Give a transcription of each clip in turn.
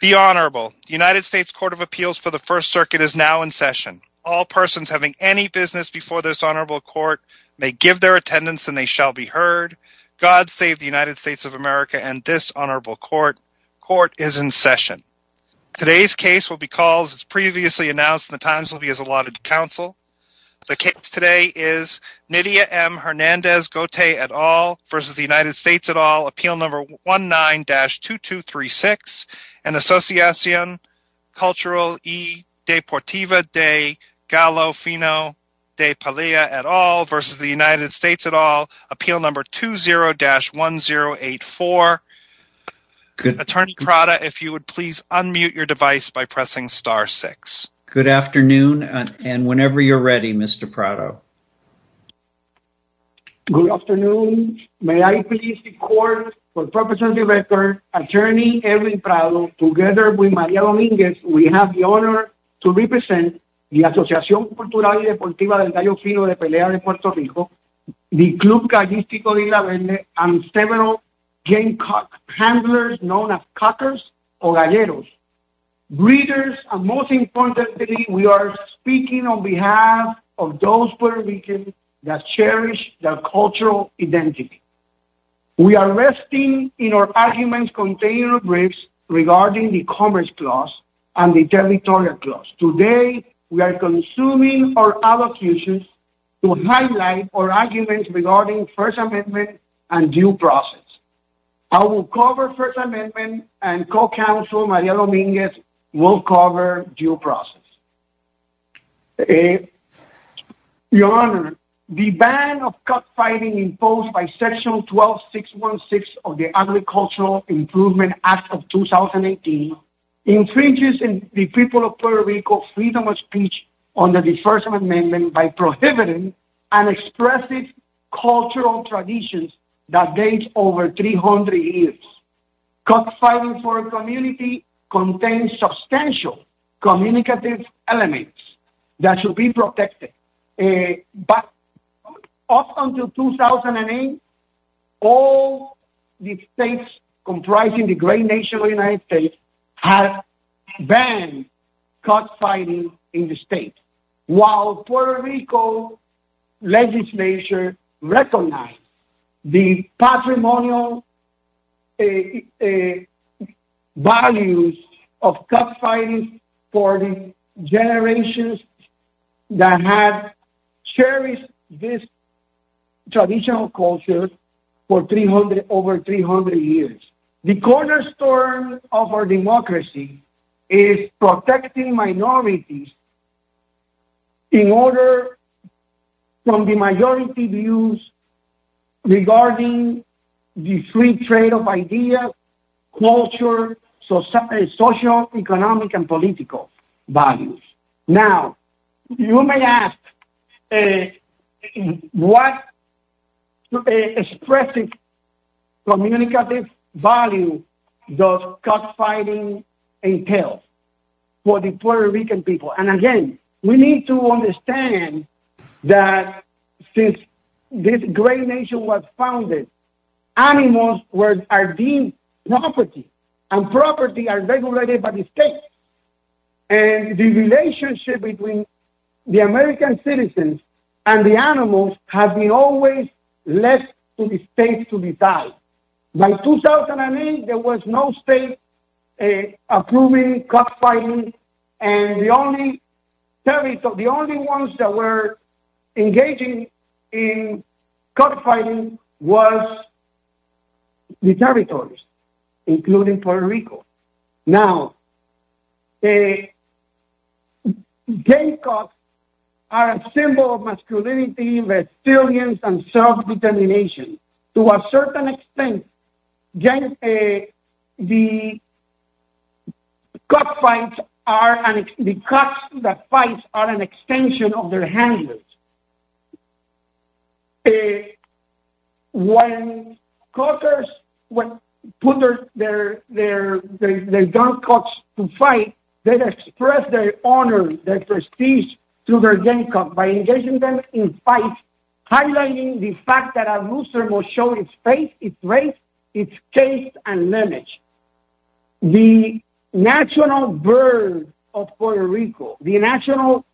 The Honorable United States Court of Appeals for the First Circuit is now in session. All persons having any business before this Honorable Court may give their attendance and they shall be heard. God save the United States of America and this Honorable Court. Court is in session. Today's case will be called as previously announced. The times will be as allotted to counsel. The case today is Nydia M. Hernandez-Gotay et al. versus the United States et al. appeal number 19-2236 and Asociacion Cultural y Deportiva de Galofino de Palia et al. versus the United States et al. appeal number 20-1084. Attorney Prado, if you would please unmute your device by pressing star six. Good afternoon and whenever you're ready Mr. Prado. Good afternoon. May I please record for the purpose of the record, Attorney Erwin Prado, together with Maria Dominguez, we have the honor to represent the Asociacion Cultural y Deportiva de Galofino de Palia de Puerto Rico, the Club Galistico de Isla Vende, and several gang cuck handlers known as cuckers or galleros. Breeders and most importantly we are speaking on behalf of those Puerto Ricans that cherish their cultural identity. We are resting in our arguments containing briefs regarding the Commerce Clause and the Territorial Clause. Today we are consuming our allocutions to highlight our arguments regarding First Amendment and due process. I will cover First Amendment and co-counsel Maria Dominguez will cover due process. Your Honor, the ban of cuck fighting imposed by section 12-616 of the Agricultural Improvement Act of 2018 infringes in the people of Puerto Rico freedom of speech under the First Amendment by prohibiting an expressive cultural tradition that dates over 300 years. Cuck fighting for a community contains substantial communicative elements that should be protected. Up until 2008, all the states comprising the great nation of the United States had banned cuck fighting in the state. While Puerto Rico legislature recognized the patrimonial values of cuck fighting for the generations that have cherished this traditional culture for over 300 years. The cornerstone of our democracy is protecting minorities in order from the majority views regarding the free trade of ideas, culture, social, economic, and political values. Now, you may ask what expressive communicative value does cuck fighting entail for the Puerto Rican people? And again, we need to understand that since this great nation was founded, animals are deemed property and property are regulated by the state. And the relationship between the American citizens and the animals has been always left to the state to decide. By 2008, there was no state approving cuck fighting. And the only ones that were engaging in cuck fighting was the territories, including Puerto Rico. Now, gay cucks are a symbol of masculinity, resilience, and self-determination. To a certain extent, the cucks that fight are an extension of their handlers. And when cuckers put their young cucks to fight, they express their honor, their prestige to their gay cuck by engaging them in fight, highlighting the fact that a loser will show his face, his race, his case and lineage. The national bird of Puerto Rico, the national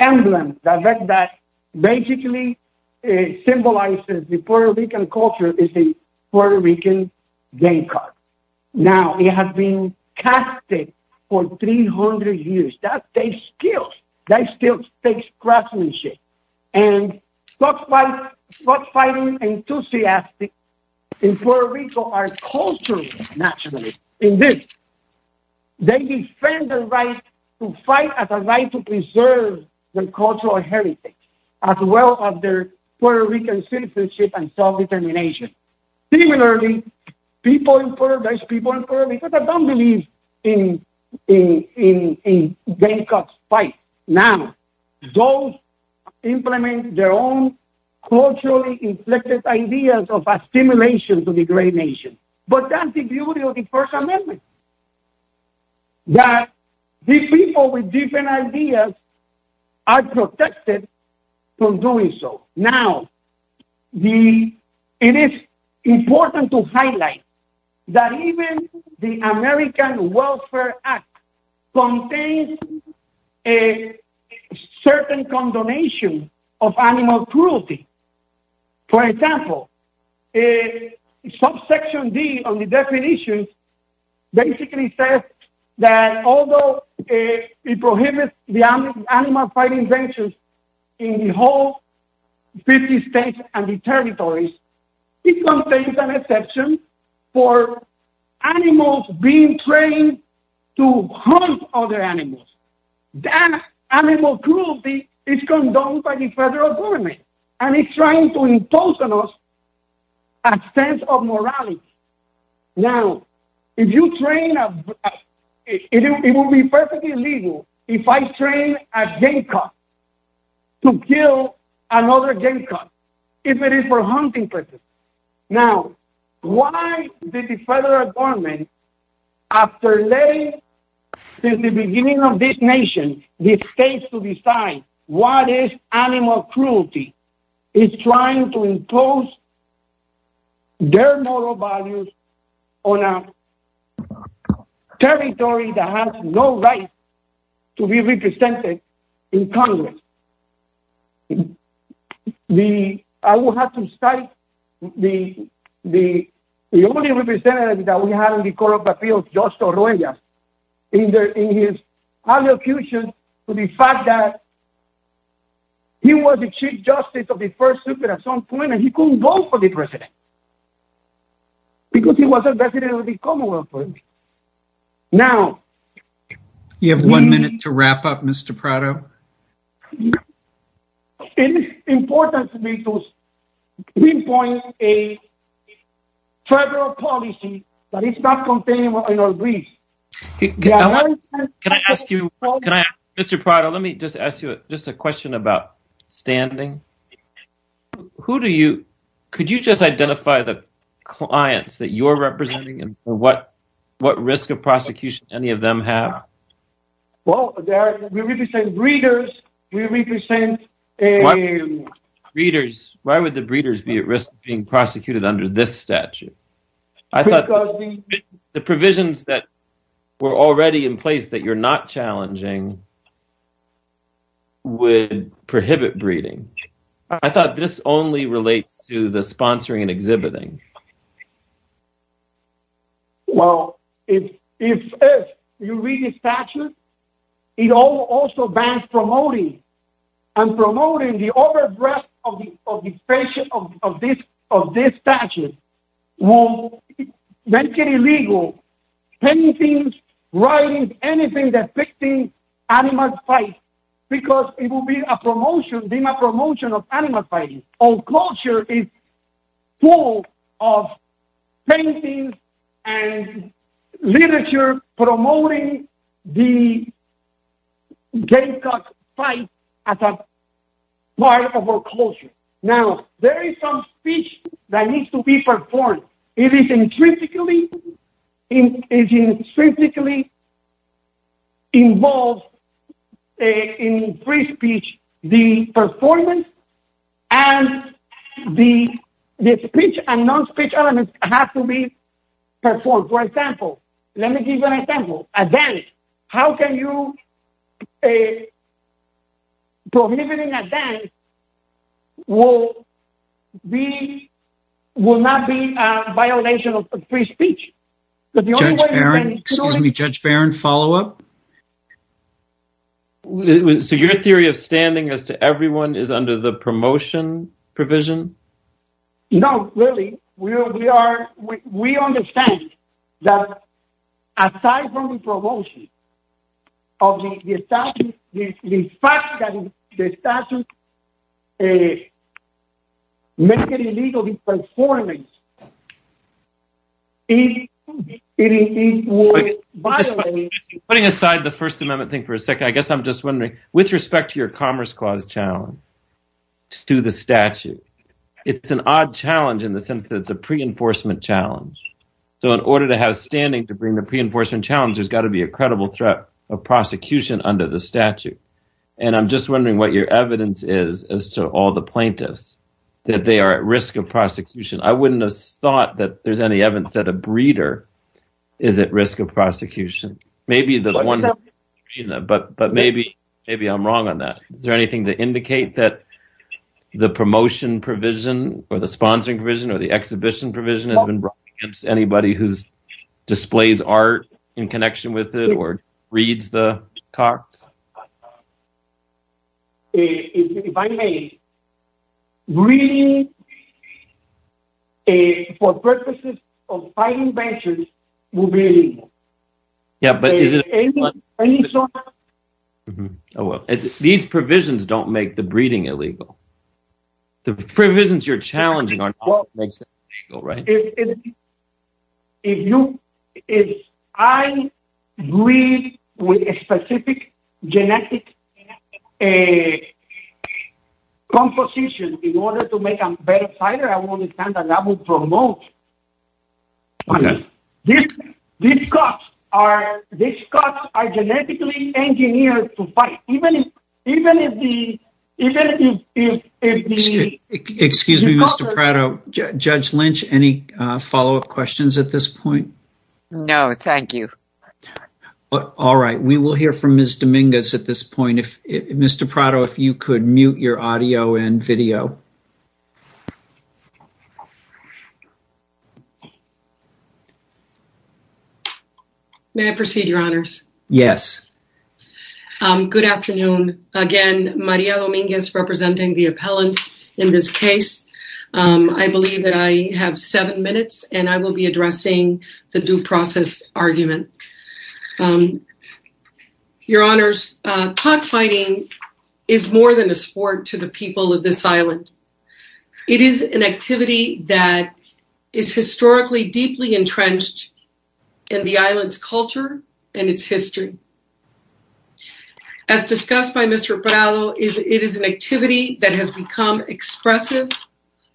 emblem that basically symbolizes the Puerto Rican culture is the Puerto Rican gay cuck. Now, it has been casted for 300 years. That takes skills. That still takes craftsmanship. And cuck fighting enthusiasts in Puerto Rico are culturally naturalists. Indeed, they defend the right to fight as a right to preserve their cultural heritage, as well as their Puerto Rican citizenship and self-determination. Similarly, people in Puerto Rico don't believe in gay cucks fight. Now, those implement their own culturally inflected ideas of assimilation to the great nation. But that's the beauty of the First Amendment, that these people with different ideas are protected from doing so. Now, it is important to highlight that even the American Welfare Act contains a condonation of animal cruelty. For example, subsection D on the definition basically says that although it prohibits the animal fighting inventions in the whole 50 states and territories, it contains an exception for animals being trained to hunt other animals. That animal cruelty is condoned by the federal government, and it's trying to impose on us a sense of morality. Now, it would be perfectly legal if I trained a gay cuck to kill another gay cuck if it is for hunting purposes. Now, why did the federal government, after letting, since the beginning of this nation, the states to decide what is animal cruelty, is trying to impose their moral values on a territory that has no right to be represented in Congress? I will have to cite the only representative that we had in the Court of Appeals, Joshua Rojas, in his allocution to the fact that he was the Chief Justice of the First Supreme Court at some point, and he couldn't vote for the president, because he was a resident of Prado. It's important for me to pinpoint a federal policy that is not contained in our briefs. Can I ask you, Mr. Prado, let me just ask you just a question about standing. Could you just identify the clients that you're representing and what risk of prosecution any of breeders? We represent breeders. Why would the breeders be at risk of being prosecuted under this statute? I thought the provisions that were already in place that you're not challenging would prohibit breeding. I thought this only relates to the sponsoring and exhibiting. Well, if you read the statute, it also bans promoting, and promoting the over-the-breast of this statute will make it illegal painting, writing, anything depicting animal fights, because it will be a promotion, being a promotion of animal fighting. Our culture is full of paintings and literature promoting the gay fight as a part of our culture. Now, there is some speech that needs to be performed. It is intrinsically involved in free speech. The performance and the speech and non-speech elements have to be performed. For example, let me give you an example. A dance. How can you prohibit a dance that will not be a violation of free speech? Judge Barron, follow up. So, your theory of standing as to everyone is under the promotion provision? No, really. We understand that, aside from the promotion, the fact that the statute makes it illegal to perform it, it would violate— Putting aside the First Amendment thing for a second, I guess I'm just wondering, with respect to your Commerce Clause challenge to the statute, it's an odd challenge in the sense that it's a pre-enforcement challenge. So, in order to have standing to bring the pre-enforcement challenge, there's got to be a credible threat of prosecution under the statute. I'm just wondering what your evidence is as to all the plaintiffs, that they are at risk of prosecution. I wouldn't have thought that there's any evidence that a breeder is at risk of prosecution. But maybe I'm wrong on that. Is there anything to indicate that the promotion provision, or the sponsoring provision, or the exhibition provision, has been brought against anybody who displays art in connection with it or reads the Cox? If I may, breeding, for purposes of fighting banter, would be illegal. These provisions don't make the breeding illegal. The provisions you're challenging are not what makes it illegal, right? If I breed with a specific genetic composition in order to make a better fighter, I will understand that I will promote. These Cox are genetically engineered to fight. Excuse me, Mr. Prado. Judge Lynch, any follow-up questions at this point? No, thank you. All right. We will hear from Ms. Dominguez at this point. Mr. Prado, if you could mute your audio and video. May I proceed, Your Honors? Yes. Good afternoon. Again, Maria Dominguez representing the appellants in this case. I believe that I have seven minutes, and I will be addressing the due process argument. Your Honors, cockfighting is more than a sport to the people of this island. It is an activity that is historically deeply entrenched in the island's culture and its history. As discussed by Mr. Prado, it is an activity that has become expressive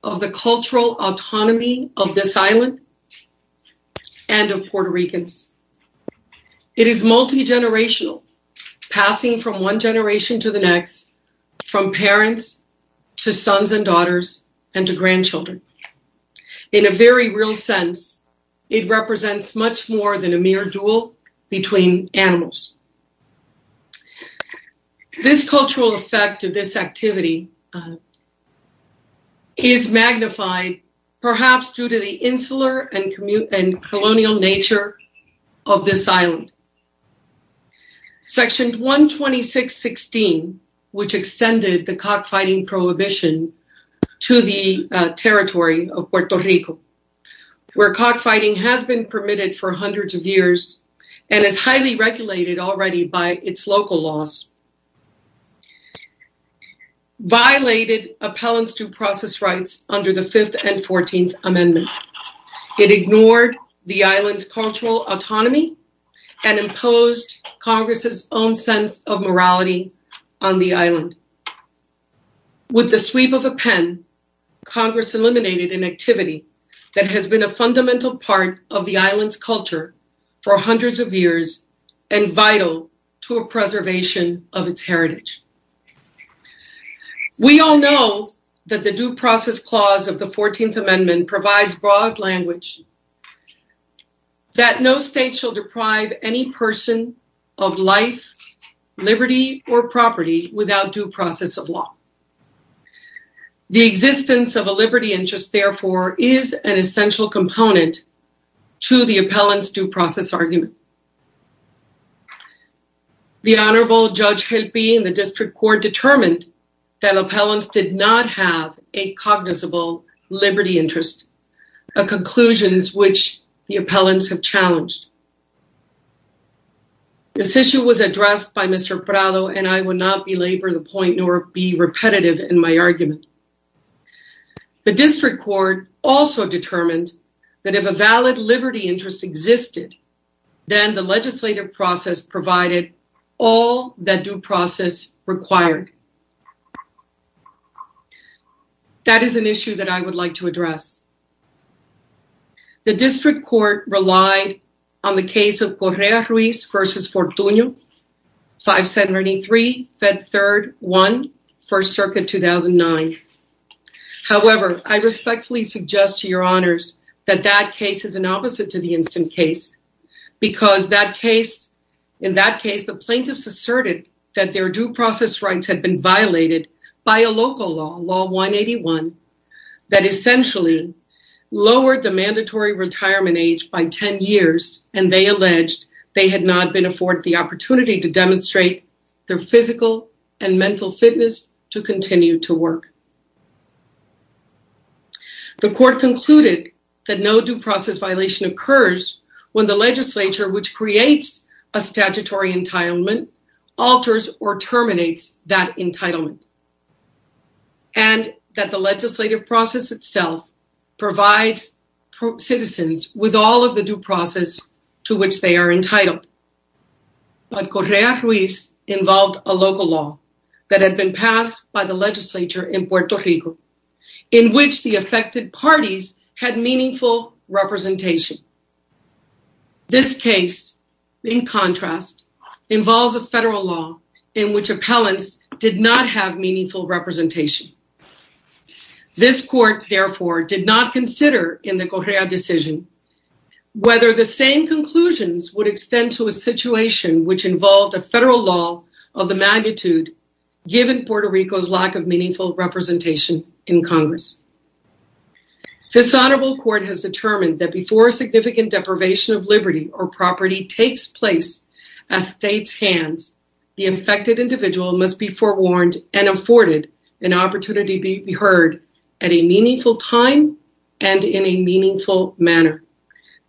of the cultural autonomy of this island and of Puerto Ricans. It is multi-generational, passing from one generation to the next, from parents to sons and daughters and to grandchildren. In a very real sense, it represents much more than a mere duel between animals. This cultural effect of this activity is magnified perhaps due to the insular and colonial nature of this island. Section 126.16, which extended the cockfighting prohibition to the territory of Puerto Rico, where cockfighting has been permitted for hundreds of years and is highly regulated already by its local laws, violated appellants due process rights under the 5th and 14th Amendment. It ignored the island's cultural autonomy and imposed Congress's own sense of morality on the island. With the sweep of a pen, Congress eliminated an activity that has been a fundamental part of the island's culture for hundreds of years and vital to a preservation of its heritage. We all know that the Due Process Clause of the 14th Amendment provides broad language that no state shall deprive any person of life, liberty, or property without due process of law. The existence of a liberty interest, therefore, is an essential component to the appellant's due process argument. The Honorable Judge Gelpi in the District Court determined that appellants did not have a cognizable liberty interest, and I would not belabor the point nor be repetitive in my argument. The District Court also determined that if a valid liberty interest existed, then the legislative process provided all that due process required. That is an issue that I would like to address. On the case of Correa Ruiz v. Fortuño, 573 Fed 3rd 1, First Circuit 2009. However, I respectfully suggest to your honors that that case is an opposite to the instant case because in that case, the plaintiffs asserted that their due process rights had been violated by a local law, Law 181, that essentially lowered the mandatory retirement age by 10 years and they alleged they had not been afforded the opportunity to demonstrate their physical and mental fitness to continue to work. The court concluded that no due process violation occurs when the legislature, which creates a statutory entitlement, alters or terminates that entitlement. And that the legislative process itself provides citizens with all of the due process to which they are entitled. But Correa Ruiz involved a local law that had been passed by the legislature in Puerto Rico, in which the affected parties had meaningful representation. This case, in contrast, involves a federal law in which appellants did not have meaningful representation. This court, therefore, did not consider in the Correa decision whether the same conclusions would extend to a situation which involved a federal law of the magnitude given Puerto Rico's lack of meaningful representation in Congress. This honorable court has determined that before a significant deprivation of liberty or property takes place at state's hands, the infected individual must be forewarned and afforded an opportunity to be heard at a meaningful time and in a meaningful manner.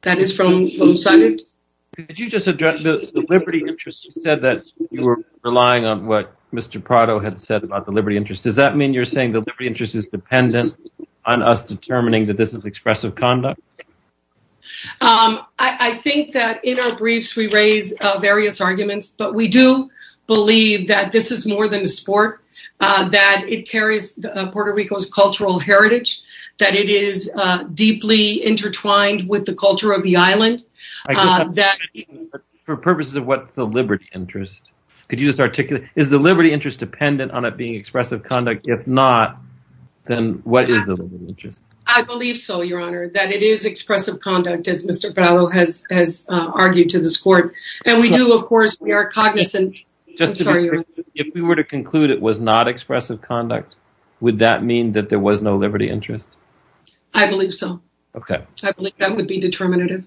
That is from both sides. Could you just address the liberty interest? You said that you were relying on what Mr. Prado had said about the liberty interest. Does that mean you're saying the liberty interest is dependent on us determining that this is expressive conduct? I think that in our briefs, we raise various arguments. But we do believe that this is more than a sport, that it carries Puerto Rico's cultural heritage, that it is deeply intertwined with the culture of the island. For purposes of what's the liberty interest, could you just articulate, is the liberty interest dependent on it being expressive conduct? If not, then what is the liberty interest? I believe so, Your Honor, that it is expressive conduct, as Mr. Prado has argued to this court. And we do, of course, we are cognizant. If we were to conclude it was not expressive conduct, would that mean that there was no liberty interest? I believe so. Okay. I believe that would be determinative.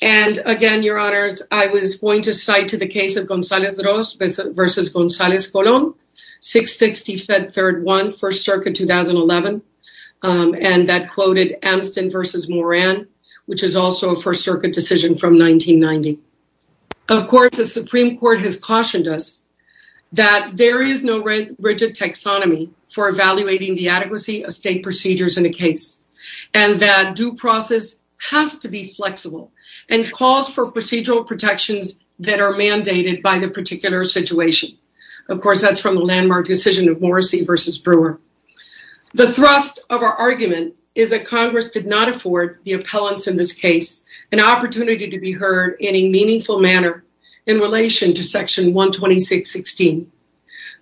And again, Your Honors, I was going to cite to the case of Gonzalez-Droz versus Gonzalez-Colón, 660 Fed Third 1, First Circuit, 2011. And that quoted Amston versus Moran, which is also a First Circuit decision from 1990. Of course, the Supreme Court has cautioned us that there is no rigid taxonomy for evaluating the adequacy of state procedures in a case, and that due process has to be flexible, and calls for procedural protections that are mandated by the particular situation. Of course, that's from the landmark decision of Morrissey versus Brewer. The thrust of our argument is that Congress did not afford the appellants in this case an opportunity to be heard in a meaningful manner in relation to Section 126.16.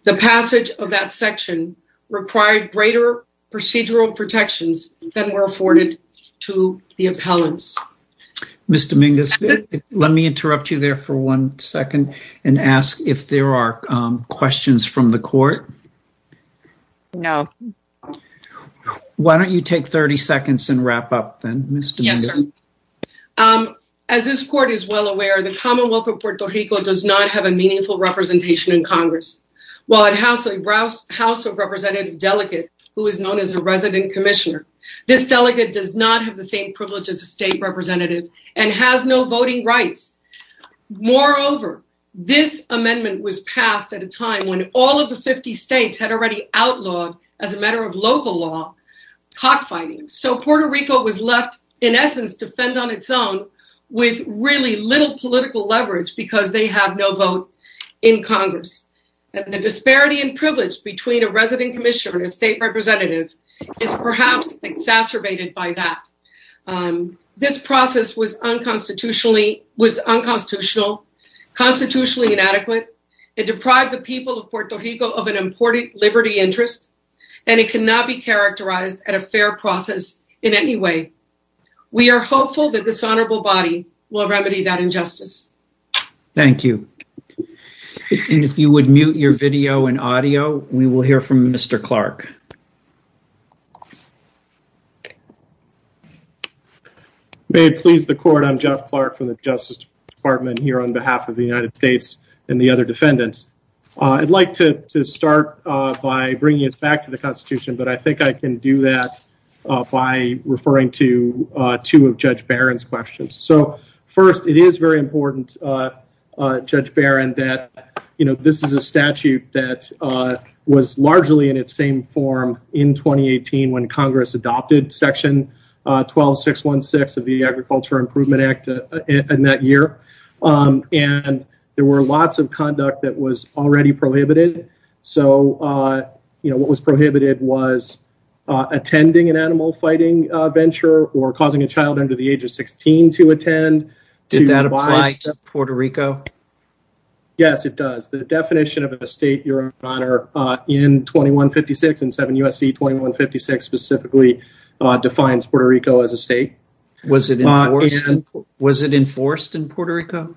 The passage of that section required greater procedural protections than were afforded to the appellants. Ms. Dominguez, let me interrupt you there for one second and ask if there are questions from the court. No. Why don't you take 30 seconds and wrap up then, Ms. Dominguez? Yes, sir. As this court is well aware, the Commonwealth of Puerto Rico does not have a meaningful representation in Congress. While it has a House of Representatives delegate who is known as a resident commissioner, this delegate does not have the same privilege as a state representative and has no voting rights. Moreover, this amendment was passed at a time when all of the 50 states had already outlawed, as a matter of local law, cockfighting. Puerto Rico was left, in essence, to fend on its own with really little political leverage because they have no vote in Congress. The disparity in privilege between a resident commissioner and a state representative is perhaps exacerbated by that. This process was unconstitutional, constitutionally inadequate. It deprived the people of Puerto Rico of an important liberty interest, and it cannot be characterized as a fair process in any way. We are hopeful that this honorable body will remedy that injustice. Thank you. And if you would mute your video and audio, we will hear from Mr. Clark. May it please the court, I'm Jeff Clark from the Justice Department here on behalf of the United States and the other defendants. I'd like to start by bringing us back to the Constitution, but I think I can do that by referring to two of Judge Barron's questions. So first, it is very important, Judge Barron, that this is a statute that was largely in its same form in 2018 when Congress adopted Section 12616 of the Agriculture Improvement Act in that already prohibited. So, you know, what was prohibited was attending an animal fighting venture or causing a child under the age of 16 to attend. Did that apply to Puerto Rico? Yes, it does. The definition of a state, Your Honor, in 2156, in 7 U.S.C. 2156 specifically defines Puerto Rico as a state. Was it enforced in Puerto Rico?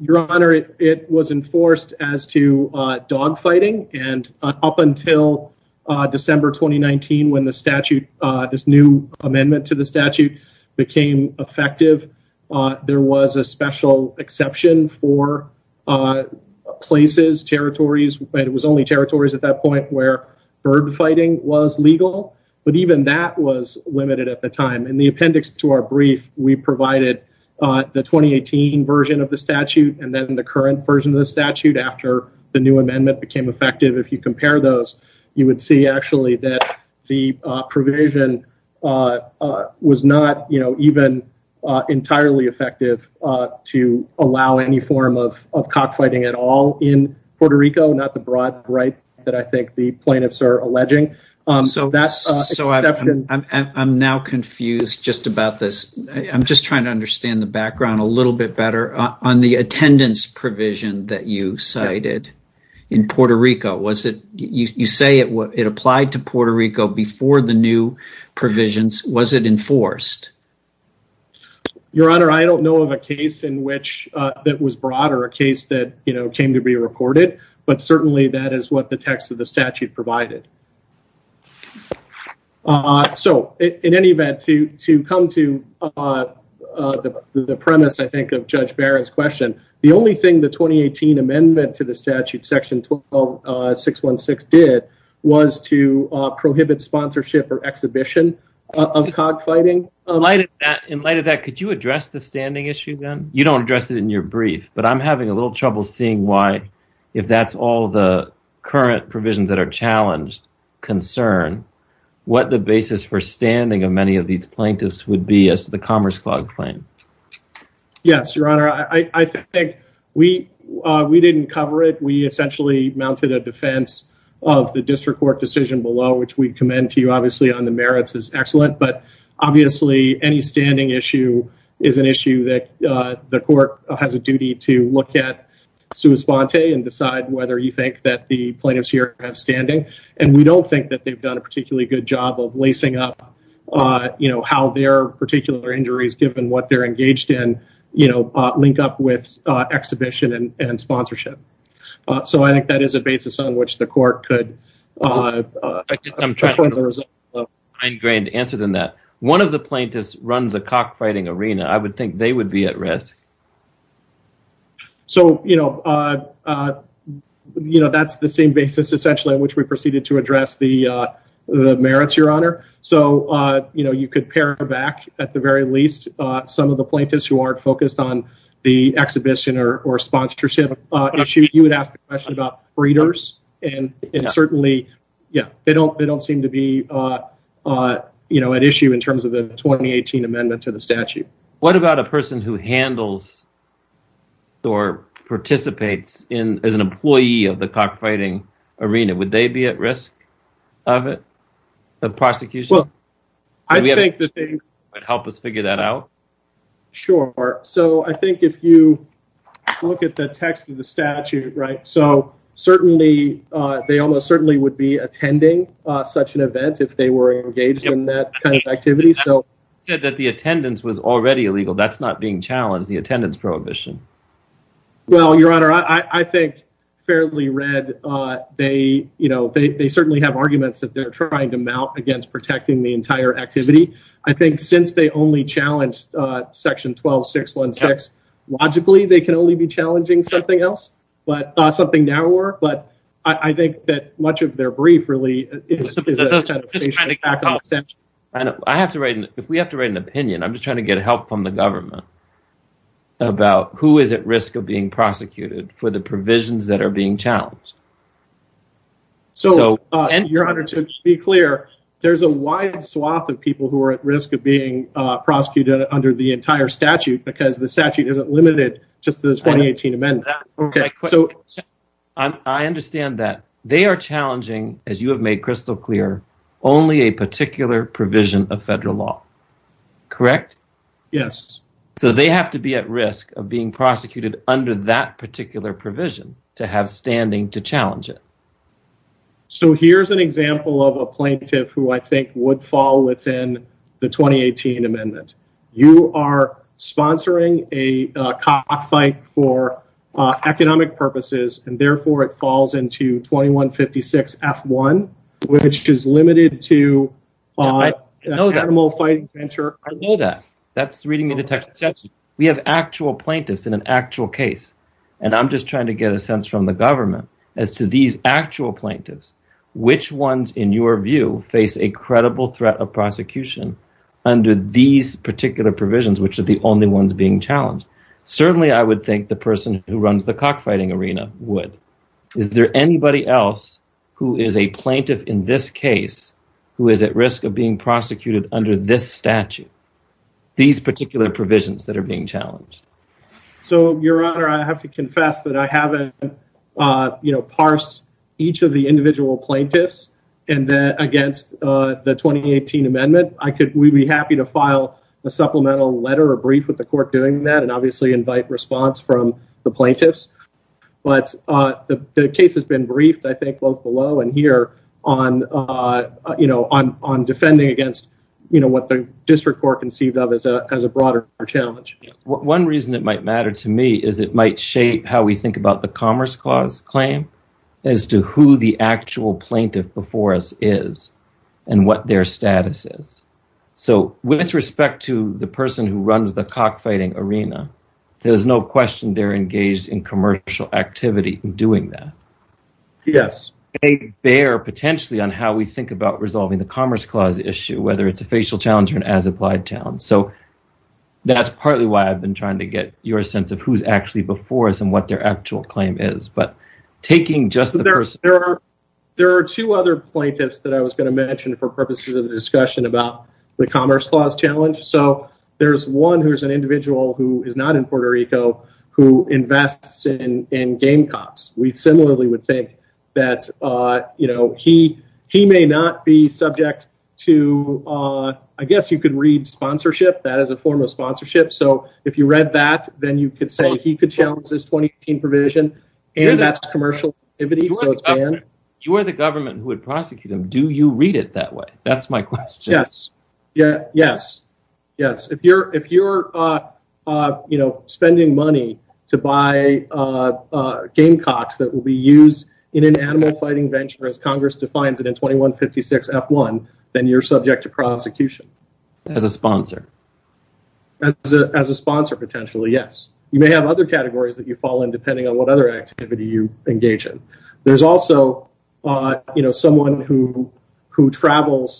Your Honor, it was enforced as to dog fighting. And up until December 2019, when the statute, this new amendment to the statute became effective, there was a special exception for places, territories, but it was only territories at that point where bird fighting was legal. But even that was limited at the time. In the appendix to our brief, we provided the 2018 version of the statute and then the current version of the statute after the new amendment became effective. If you compare those, you would see actually that the provision was not even entirely effective to allow any form of cockfighting at all in Puerto Rico, not the broad right that I think the plaintiffs are alleging. So I'm now confused just about this. I'm just trying to understand the background a little bit better. On the attendance provision that you cited in Puerto Rico, you say it applied to Puerto Rico before the new provisions. Was it enforced? Your Honor, I don't know of a case that was broader, a case that came to be recorded, but certainly that is what the text of the statute provided. So, in any event, to come to the premise, I think, of Judge Barrett's question, the only thing the 2018 amendment to the statute section 616 did was to prohibit sponsorship or exhibition of cockfighting. In light of that, could you address the standing issue then? You don't address it in your brief, but I'm having a little trouble seeing why, if that's all the current provisions that are challenged, concern, what the basis for standing of many of these plaintiffs would be as to the Commerce Clause claim. Yes, Your Honor, I think we didn't cover it. We essentially mounted a defense of the district court decision below, which we commend to you, obviously, on the merits is excellent. But, obviously, any standing issue is an issue that the court has a duty to look at and decide whether you think that the plaintiffs here have standing, and we don't think that they've done a particularly good job of lacing up how their particular injuries, given what they're engaged in, link up with exhibition and sponsorship. So, I think that is a basis on which the court could… I'm trying to find a better answer than that. One of the plaintiffs runs a cockfighting arena. I would think they would be at risk. So, you know, that's the same basis, essentially, on which we proceeded to address the merits, Your Honor. So, you know, you could pare back, at the very least, some of the plaintiffs who aren't focused on the exhibition or sponsorship issue. You would ask the question about breeders, and certainly, yeah, they don't seem to be at issue in terms of the 2018 amendment to the statute. What about a person who handles or participates as an employee of the cockfighting arena? Would they be at risk of it, the prosecution? Well, I think that they… Help us figure that out? Sure. So, I think if you look at the text of the statute, right, so, certainly, they almost certainly would be attending such an event if they were engaged in that kind of activity. Said that the attendance was already illegal. That's not being challenged, the attendance prohibition. Well, Your Honor, I think, fairly read, they, you know, they certainly have arguments that they're trying to mount against protecting the entire activity. I think since they only challenged section 12-616, logically, they can only be challenging something else, but something narrower. But I think that much of their brief, really, is a kind of facial attack on the statute. And I have to write, if we have to write an opinion, I'm just trying to get help from the government about who is at risk of being prosecuted for the provisions that are being challenged. So, Your Honor, to be clear, there's a wide swath of people who are at risk of being prosecuted under the entire statute because the statute isn't limited just to the 2018 amendment. Okay, so, I understand that. They are challenging, as you have made crystal clear, only a particular provision of federal law, correct? Yes. So, they have to be at risk of being prosecuted under that particular provision to have standing to challenge it. So, here's an example of a plaintiff who I think would fall within the 2018 amendment. You are sponsoring a cockfight for economic purposes, and therefore, it falls into 2156 F1, which is limited to an animal fight venture. I know that. That's reading the text. We have actual plaintiffs in an actual case, and I'm just trying to get a sense from the government as to these actual plaintiffs, which ones, in your view, face a credible threat of prosecution under these particular provisions, which are the only ones being challenged? Certainly, I would think the person who runs the cockfighting arena would. Is there anybody else who is a plaintiff in this case who is at risk of being prosecuted under this statute, these particular provisions that are being challenged? So, Your Honor, I have to confess that I haven't, you know, parsed each of the individual plaintiffs against the 2018 amendment. I could, we'd be happy to file a supplemental letter or brief with the court doing that and obviously invite response from the plaintiffs, but the case has been briefed, I think, both below and here on, you know, on defending against, you know, what the district court conceived of as a broader challenge. One reason it might matter to me is it might shape how we think about the Commerce Clause claim as to who the actual plaintiff before us is and what their status is. So, with respect to the person who runs the cockfighting arena, there's no question they're engaged in commercial activity in doing that. Yes. It may bear potentially on how we think about resolving the Commerce Clause issue, whether it's a facial challenge or an as-applied challenge. So, that's partly why I've been trying to get your sense of who's actually before us and what their actual claim is. But, taking just the person. There are two other plaintiffs that I was going to mention for purposes of the discussion about the Commerce Clause challenge. So, there's one who's an individual who is not in Puerto Rico who invests in game cops. We similarly would think that, you know, he may not be subject to, I guess you could read sponsorship. That is a form of sponsorship. So, if you read that, then you could say he could challenge this 2015 provision and that's commercial activity. So, it's banned. You are the government who would prosecute him. Do you read it that way? That's my question. Yes. Yeah. Yes. Yes. If you're, you know, spending money to buy game cocks that will be used in an animal fighting venture, as Congress defines it in 2156 F1, then you're subject to prosecution. As a sponsor. As a sponsor, potentially, yes. You may have other categories that you fall in depending on what other activity you engage in. There's also, you know, someone who travels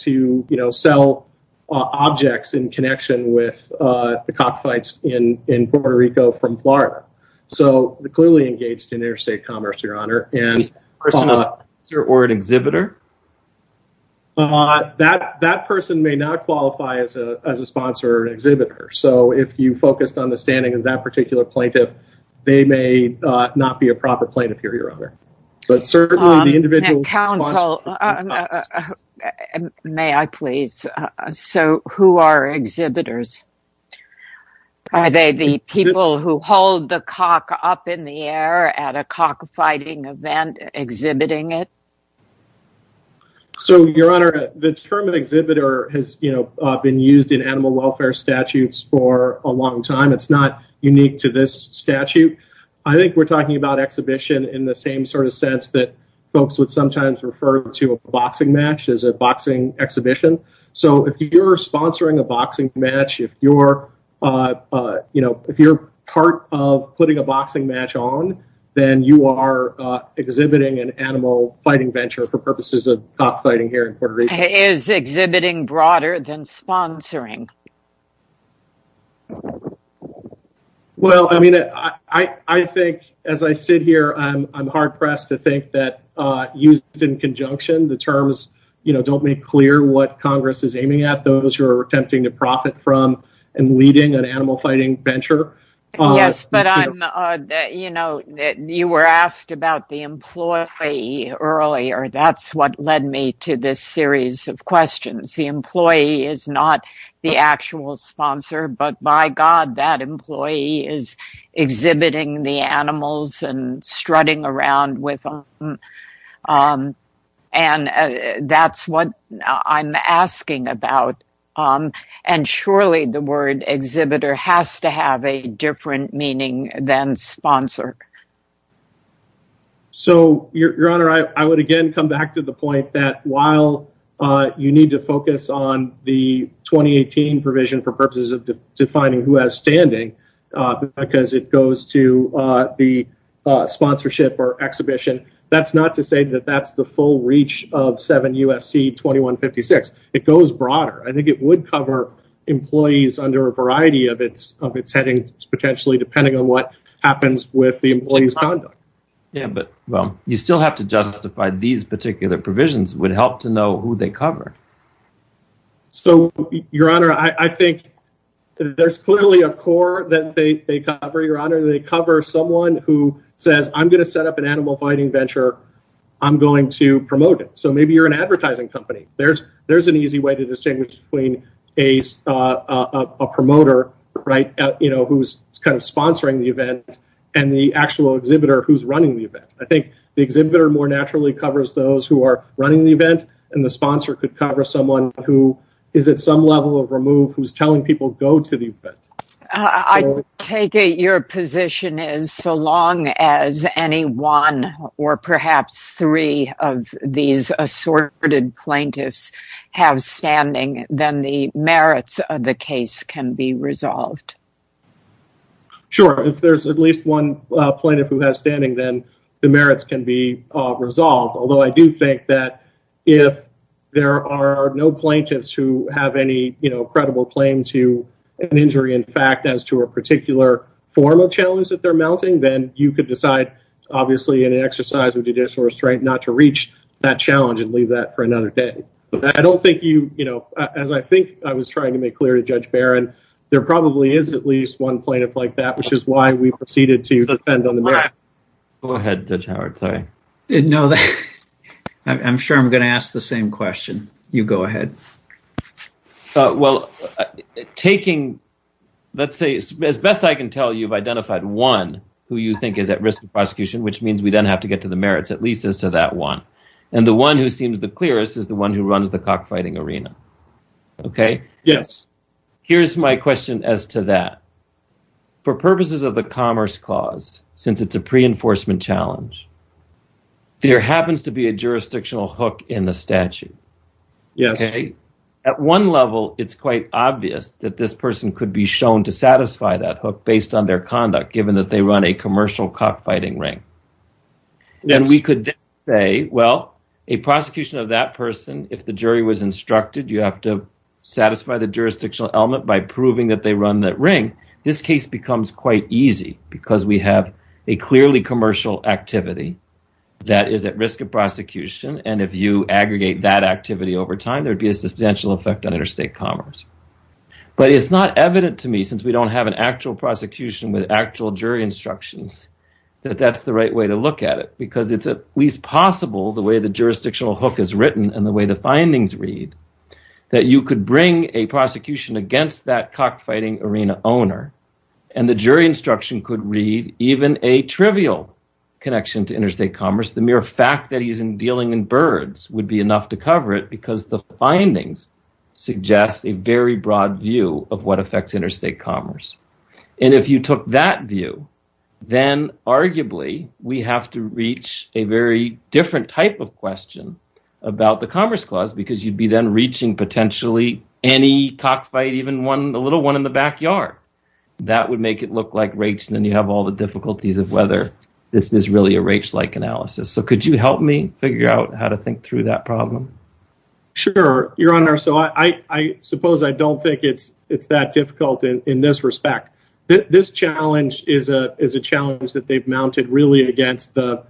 to, you know, sell objects in connection with the cockfights in Puerto Rico from Florida. So, they're clearly engaged in interstate commerce, Your Honor. Is the person a sponsor or an exhibitor? That person may not qualify as a sponsor or an exhibitor. So, if you focused on the standing of that particular plaintiff, they may not be a proper plaintiff, Your Honor. But certainly, the individual sponsor— And counsel, may I please? So, who are exhibitors? Are they the people who hold the cock up in the air at a cockfighting event, exhibiting it? So, Your Honor, the term of exhibitor has, you know, been used in animal welfare statutes for a long time. It's not unique to this statute. I think we're talking about exhibition in the same sort of sense that folks would sometimes refer to a boxing match as a boxing exhibition. So, if you're sponsoring a boxing match, if you're, you know, if you're part of putting a boxing match on, then you are exhibiting an animal fighting venture for purposes of cockfighting here in Puerto Rico. Is exhibiting broader than sponsoring? Well, I mean, I think as I sit here, I'm hard-pressed to think that used in conjunction, the terms, you know, don't make clear what Congress is aiming at. Those who are attempting to profit from and leading an animal fighting venture. Yes, but I'm, you know, you were asked about the employee earlier. That's what led me to this series of questions. The employee is not the actual sponsor, but by God, that employee is exhibiting the animals and strutting around with them. And that's what I'm asking about. And surely the word exhibitor has to have a different meaning than sponsor. So, Your Honor, I would again come back to the point that while you need to focus on the 2018 provision for purposes of defining who has standing, because it goes to the sponsorship or exhibition, that's not to say that that's the full reach of 7 UFC 2156. It goes broader. I think it would cover employees under a variety of its headings, potentially depending on what happens with the employee's conduct. Yeah, but well, you still have to justify these particular provisions would help to know who they cover. So, Your Honor, I think there's clearly a core that they cover. Your Honor, they cover someone who says, I'm going to set up an animal fighting venture. I'm going to promote it. So maybe you're an advertising company. There's an easy way to distinguish between a promoter who's kind of sponsoring the event and the actual exhibitor who's running the event. I think the exhibitor more naturally covers those who are running the event, and the sponsor could cover someone who is at some level of remove, who's telling people go to the event. I take it your position is so long as any one or perhaps three of these assorted plaintiffs have standing, then the merits of the case can be resolved. Sure, if there's at least one plaintiff who has standing, then the merits can be resolved. Although I do think that if there are no plaintiffs who have any, you know, credible claim to an injury, in fact, as to a particular form of challenge that they're mounting, then you could decide, obviously, in an exercise of judicial restraint, not to reach that challenge and leave that for another day. But I don't think you, you know, as I think I was trying to make clear to Judge Barron, there probably is at least one plaintiff like that, which is why we proceeded to defend on the merits. Go ahead, Judge Howard, sorry. No, I'm sure I'm going to ask the same question. You go ahead. Well, taking, let's say, as best I can tell, you've identified one who you think is at risk of prosecution, which means we then have to get to the merits, at least as to that one. And the one who seems the clearest is the one who runs the cockfighting arena. Okay. Yes. Here's my question as to that. For purposes of the commerce clause, since it's a pre-enforcement challenge, there happens to be a jurisdictional hook in the statute. Yes. Okay. At one level, it's quite obvious that this person could be shown to satisfy that hook based on their conduct, given that they run a commercial cockfighting ring. Then we could say, well, a prosecution of that person, if the jury was instructed, you have to satisfy the jurisdictional element by proving that they run that ring. This case becomes quite easy because we have a clearly commercial activity that is at risk of prosecution, and if you aggregate that activity over time, there'd be a substantial effect on interstate commerce. But it's not evident to me, since we don't have an actual prosecution with actual jury instructions, that that's the right way to look at it, because it's at least possible, the way the jurisdictional hook is written and the way the findings read, that you could bring a prosecution against that cockfighting arena owner, and the jury instruction could read even a trivial connection to interstate commerce. The mere fact that he's dealing in birds would be enough to cover it, because the findings suggest a very broad view of what affects interstate commerce. If you took that view, then arguably, we have to reach a very different type of question about the Commerce Clause, because you'd be then reaching potentially any cockfight, even one, a little one in the backyard. That would make it look like race, and then you have all the difficulties of whether this is really a race-like analysis. So could you help me figure out how to think through that problem? Sure, Your Honor. So I suppose I don't think it's that difficult in this respect. This challenge is a challenge that they've mounted really against the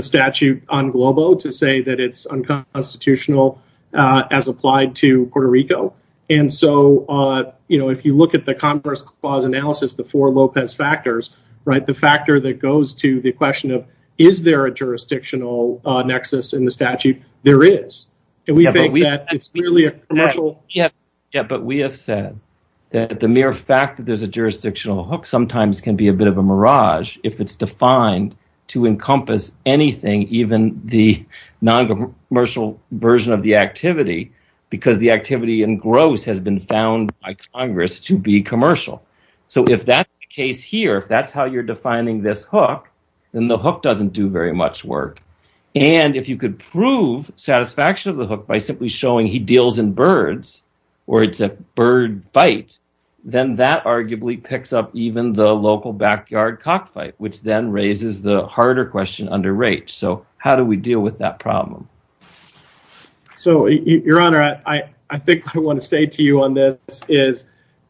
statute on Globo to say that it's unconstitutional as applied to Puerto Rico. So if you look at the Commerce Clause analysis, the four Lopez factors, the factor that goes to the question of, is there a jurisdictional nexus in the statute? There is. But we have said that the mere fact that there's a jurisdictional hook sometimes can be a bit of a mirage if it's defined to encompass anything, even the non-commercial version of the activity, because the activity in gross has been found by Congress to be commercial. So if that's the case here, if that's how you're defining this hook, then the hook doesn't do very much work. And if you could prove satisfaction of the hook by simply showing he deals in birds or it's a bird bite, then that arguably picks up even the local backyard cockfight, which then raises the harder question under race. So how do we deal with that problem? So, Your Honor, I think I want to say to you on this is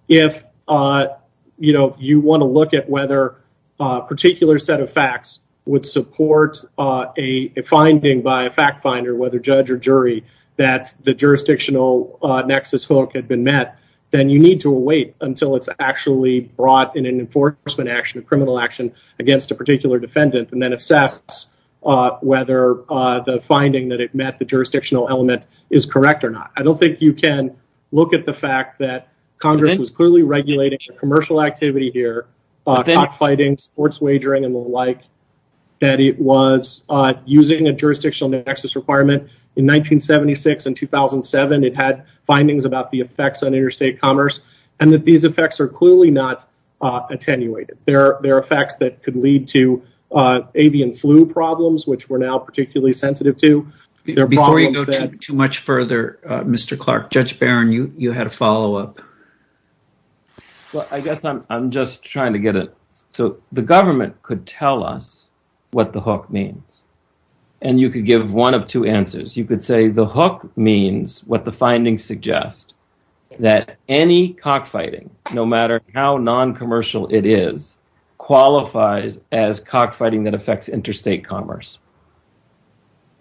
if you want to look at whether a particular set of facts would support a finding by a fact finder, whether judge or jury, that the jurisdictional nexus hook had been met, then you need to wait until it's actually brought in an enforcement action, a criminal action against a particular defendant and then assess whether the finding that it met the jurisdictional element is correct or not. I don't think you can look at the fact that Congress was clearly regulating commercial activity here, cockfighting, sports wagering, and the like, that it was using a jurisdictional nexus requirement. In 1976 and 2007, it had findings about the effects on interstate commerce and that these effects are clearly not attenuated. There are facts that could lead to avian flu problems, which we're now particularly sensitive to. Before you go too much further, Mr. Clark, Judge Barron, you had a follow-up. Well, I guess I'm just trying to get it. So the government could tell us what the hook means and you could give one of two answers. You could say the hook means what the findings suggest, that any cockfighting, no matter how non-commercial it is, qualifies as cockfighting that affects interstate commerce.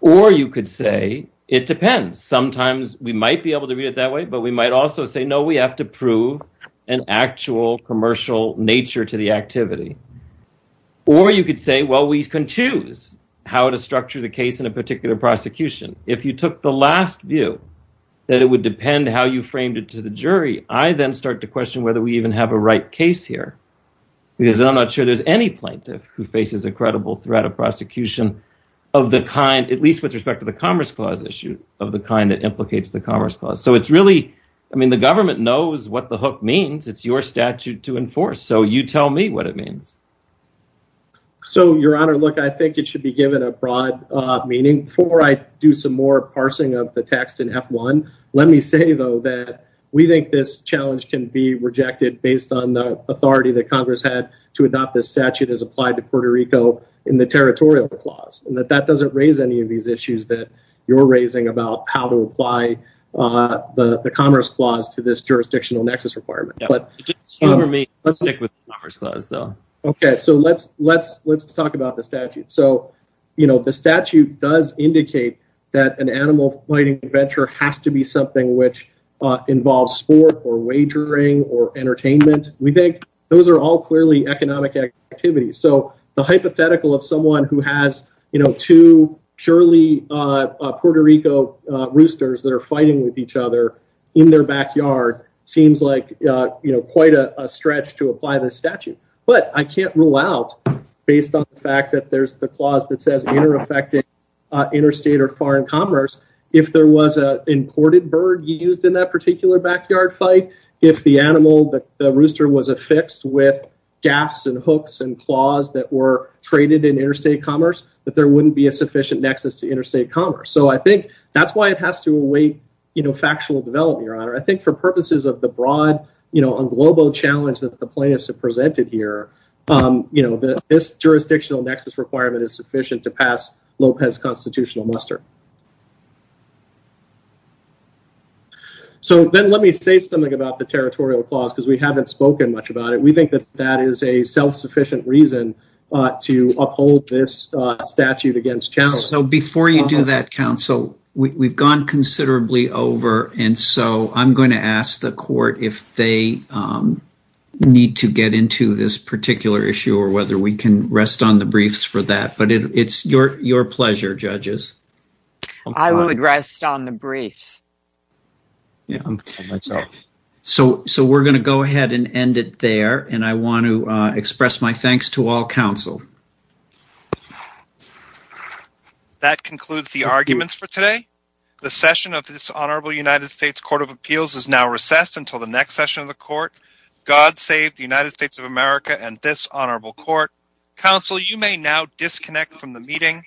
Or you could say it depends. Sometimes we might be able to read it that way, but we might also say, no, we have to prove an actual commercial nature to the activity. Or you could say, well, we can choose how to structure the case in a particular prosecution. If you took the last view that it would depend how you framed it to the jury, I then start to question whether we even have a right case here because I'm not sure there's any plaintiff who faces a credible threat of prosecution of the kind, at least with respect to the Commerce Clause issue, of the kind that implicates the Commerce Clause. So it's really, I mean, the government knows what the hook means. It's your statute to enforce. So you tell me what it means. So, Your Honor, look, I think it should be given a broad meaning. Before I do some more parsing of the text in F1, let me say, though, that we think this rejected based on the authority that Congress had to adopt this statute as applied to Puerto Rico in the Territorial Clause, and that that doesn't raise any of these issues that you're raising about how to apply the Commerce Clause to this jurisdictional nexus requirement. Yeah, it didn't cover me. Let's stick with the Commerce Clause, though. OK, so let's talk about the statute. So, you know, the statute does indicate that an animal fighting adventure has to be something which involves sport or wagering or entertainment. We think those are all clearly economic activities. So the hypothetical of someone who has, you know, two purely Puerto Rico roosters that are fighting with each other in their backyard seems like, you know, quite a stretch to apply this statute. But I can't rule out, based on the fact that there's the clause that says inter-affecting interstate or foreign commerce, if there was an imported bird used in that particular backyard fight, if the animal, the rooster was affixed with gaffes and hooks and claws that were traded in interstate commerce, that there wouldn't be a sufficient nexus to interstate commerce. So I think that's why it has to await, you know, factual development, Your Honor. I think for purposes of the broad, you know, unglobal challenge that the plaintiffs have presented here, you know, this jurisdictional nexus requirement is sufficient to pass Lopez constitutional muster. So then let me say something about the territorial clause, because we haven't spoken much about it. We think that that is a self-sufficient reason to uphold this statute against channels. So before you do that, counsel, we've gone considerably over. And so I'm going to ask the court if they need to get into this particular issue or whether we can rest on the briefs for that. But it's your pleasure, judges. I would rest on the briefs. So we're going to go ahead and end it there. And I want to express my thanks to all counsel. That concludes the arguments for today. The session of this honorable United States Court of Appeals is now recessed until the next session of the court. God save the United States of America and this honorable court. Counsel, you may now disconnect from the meeting.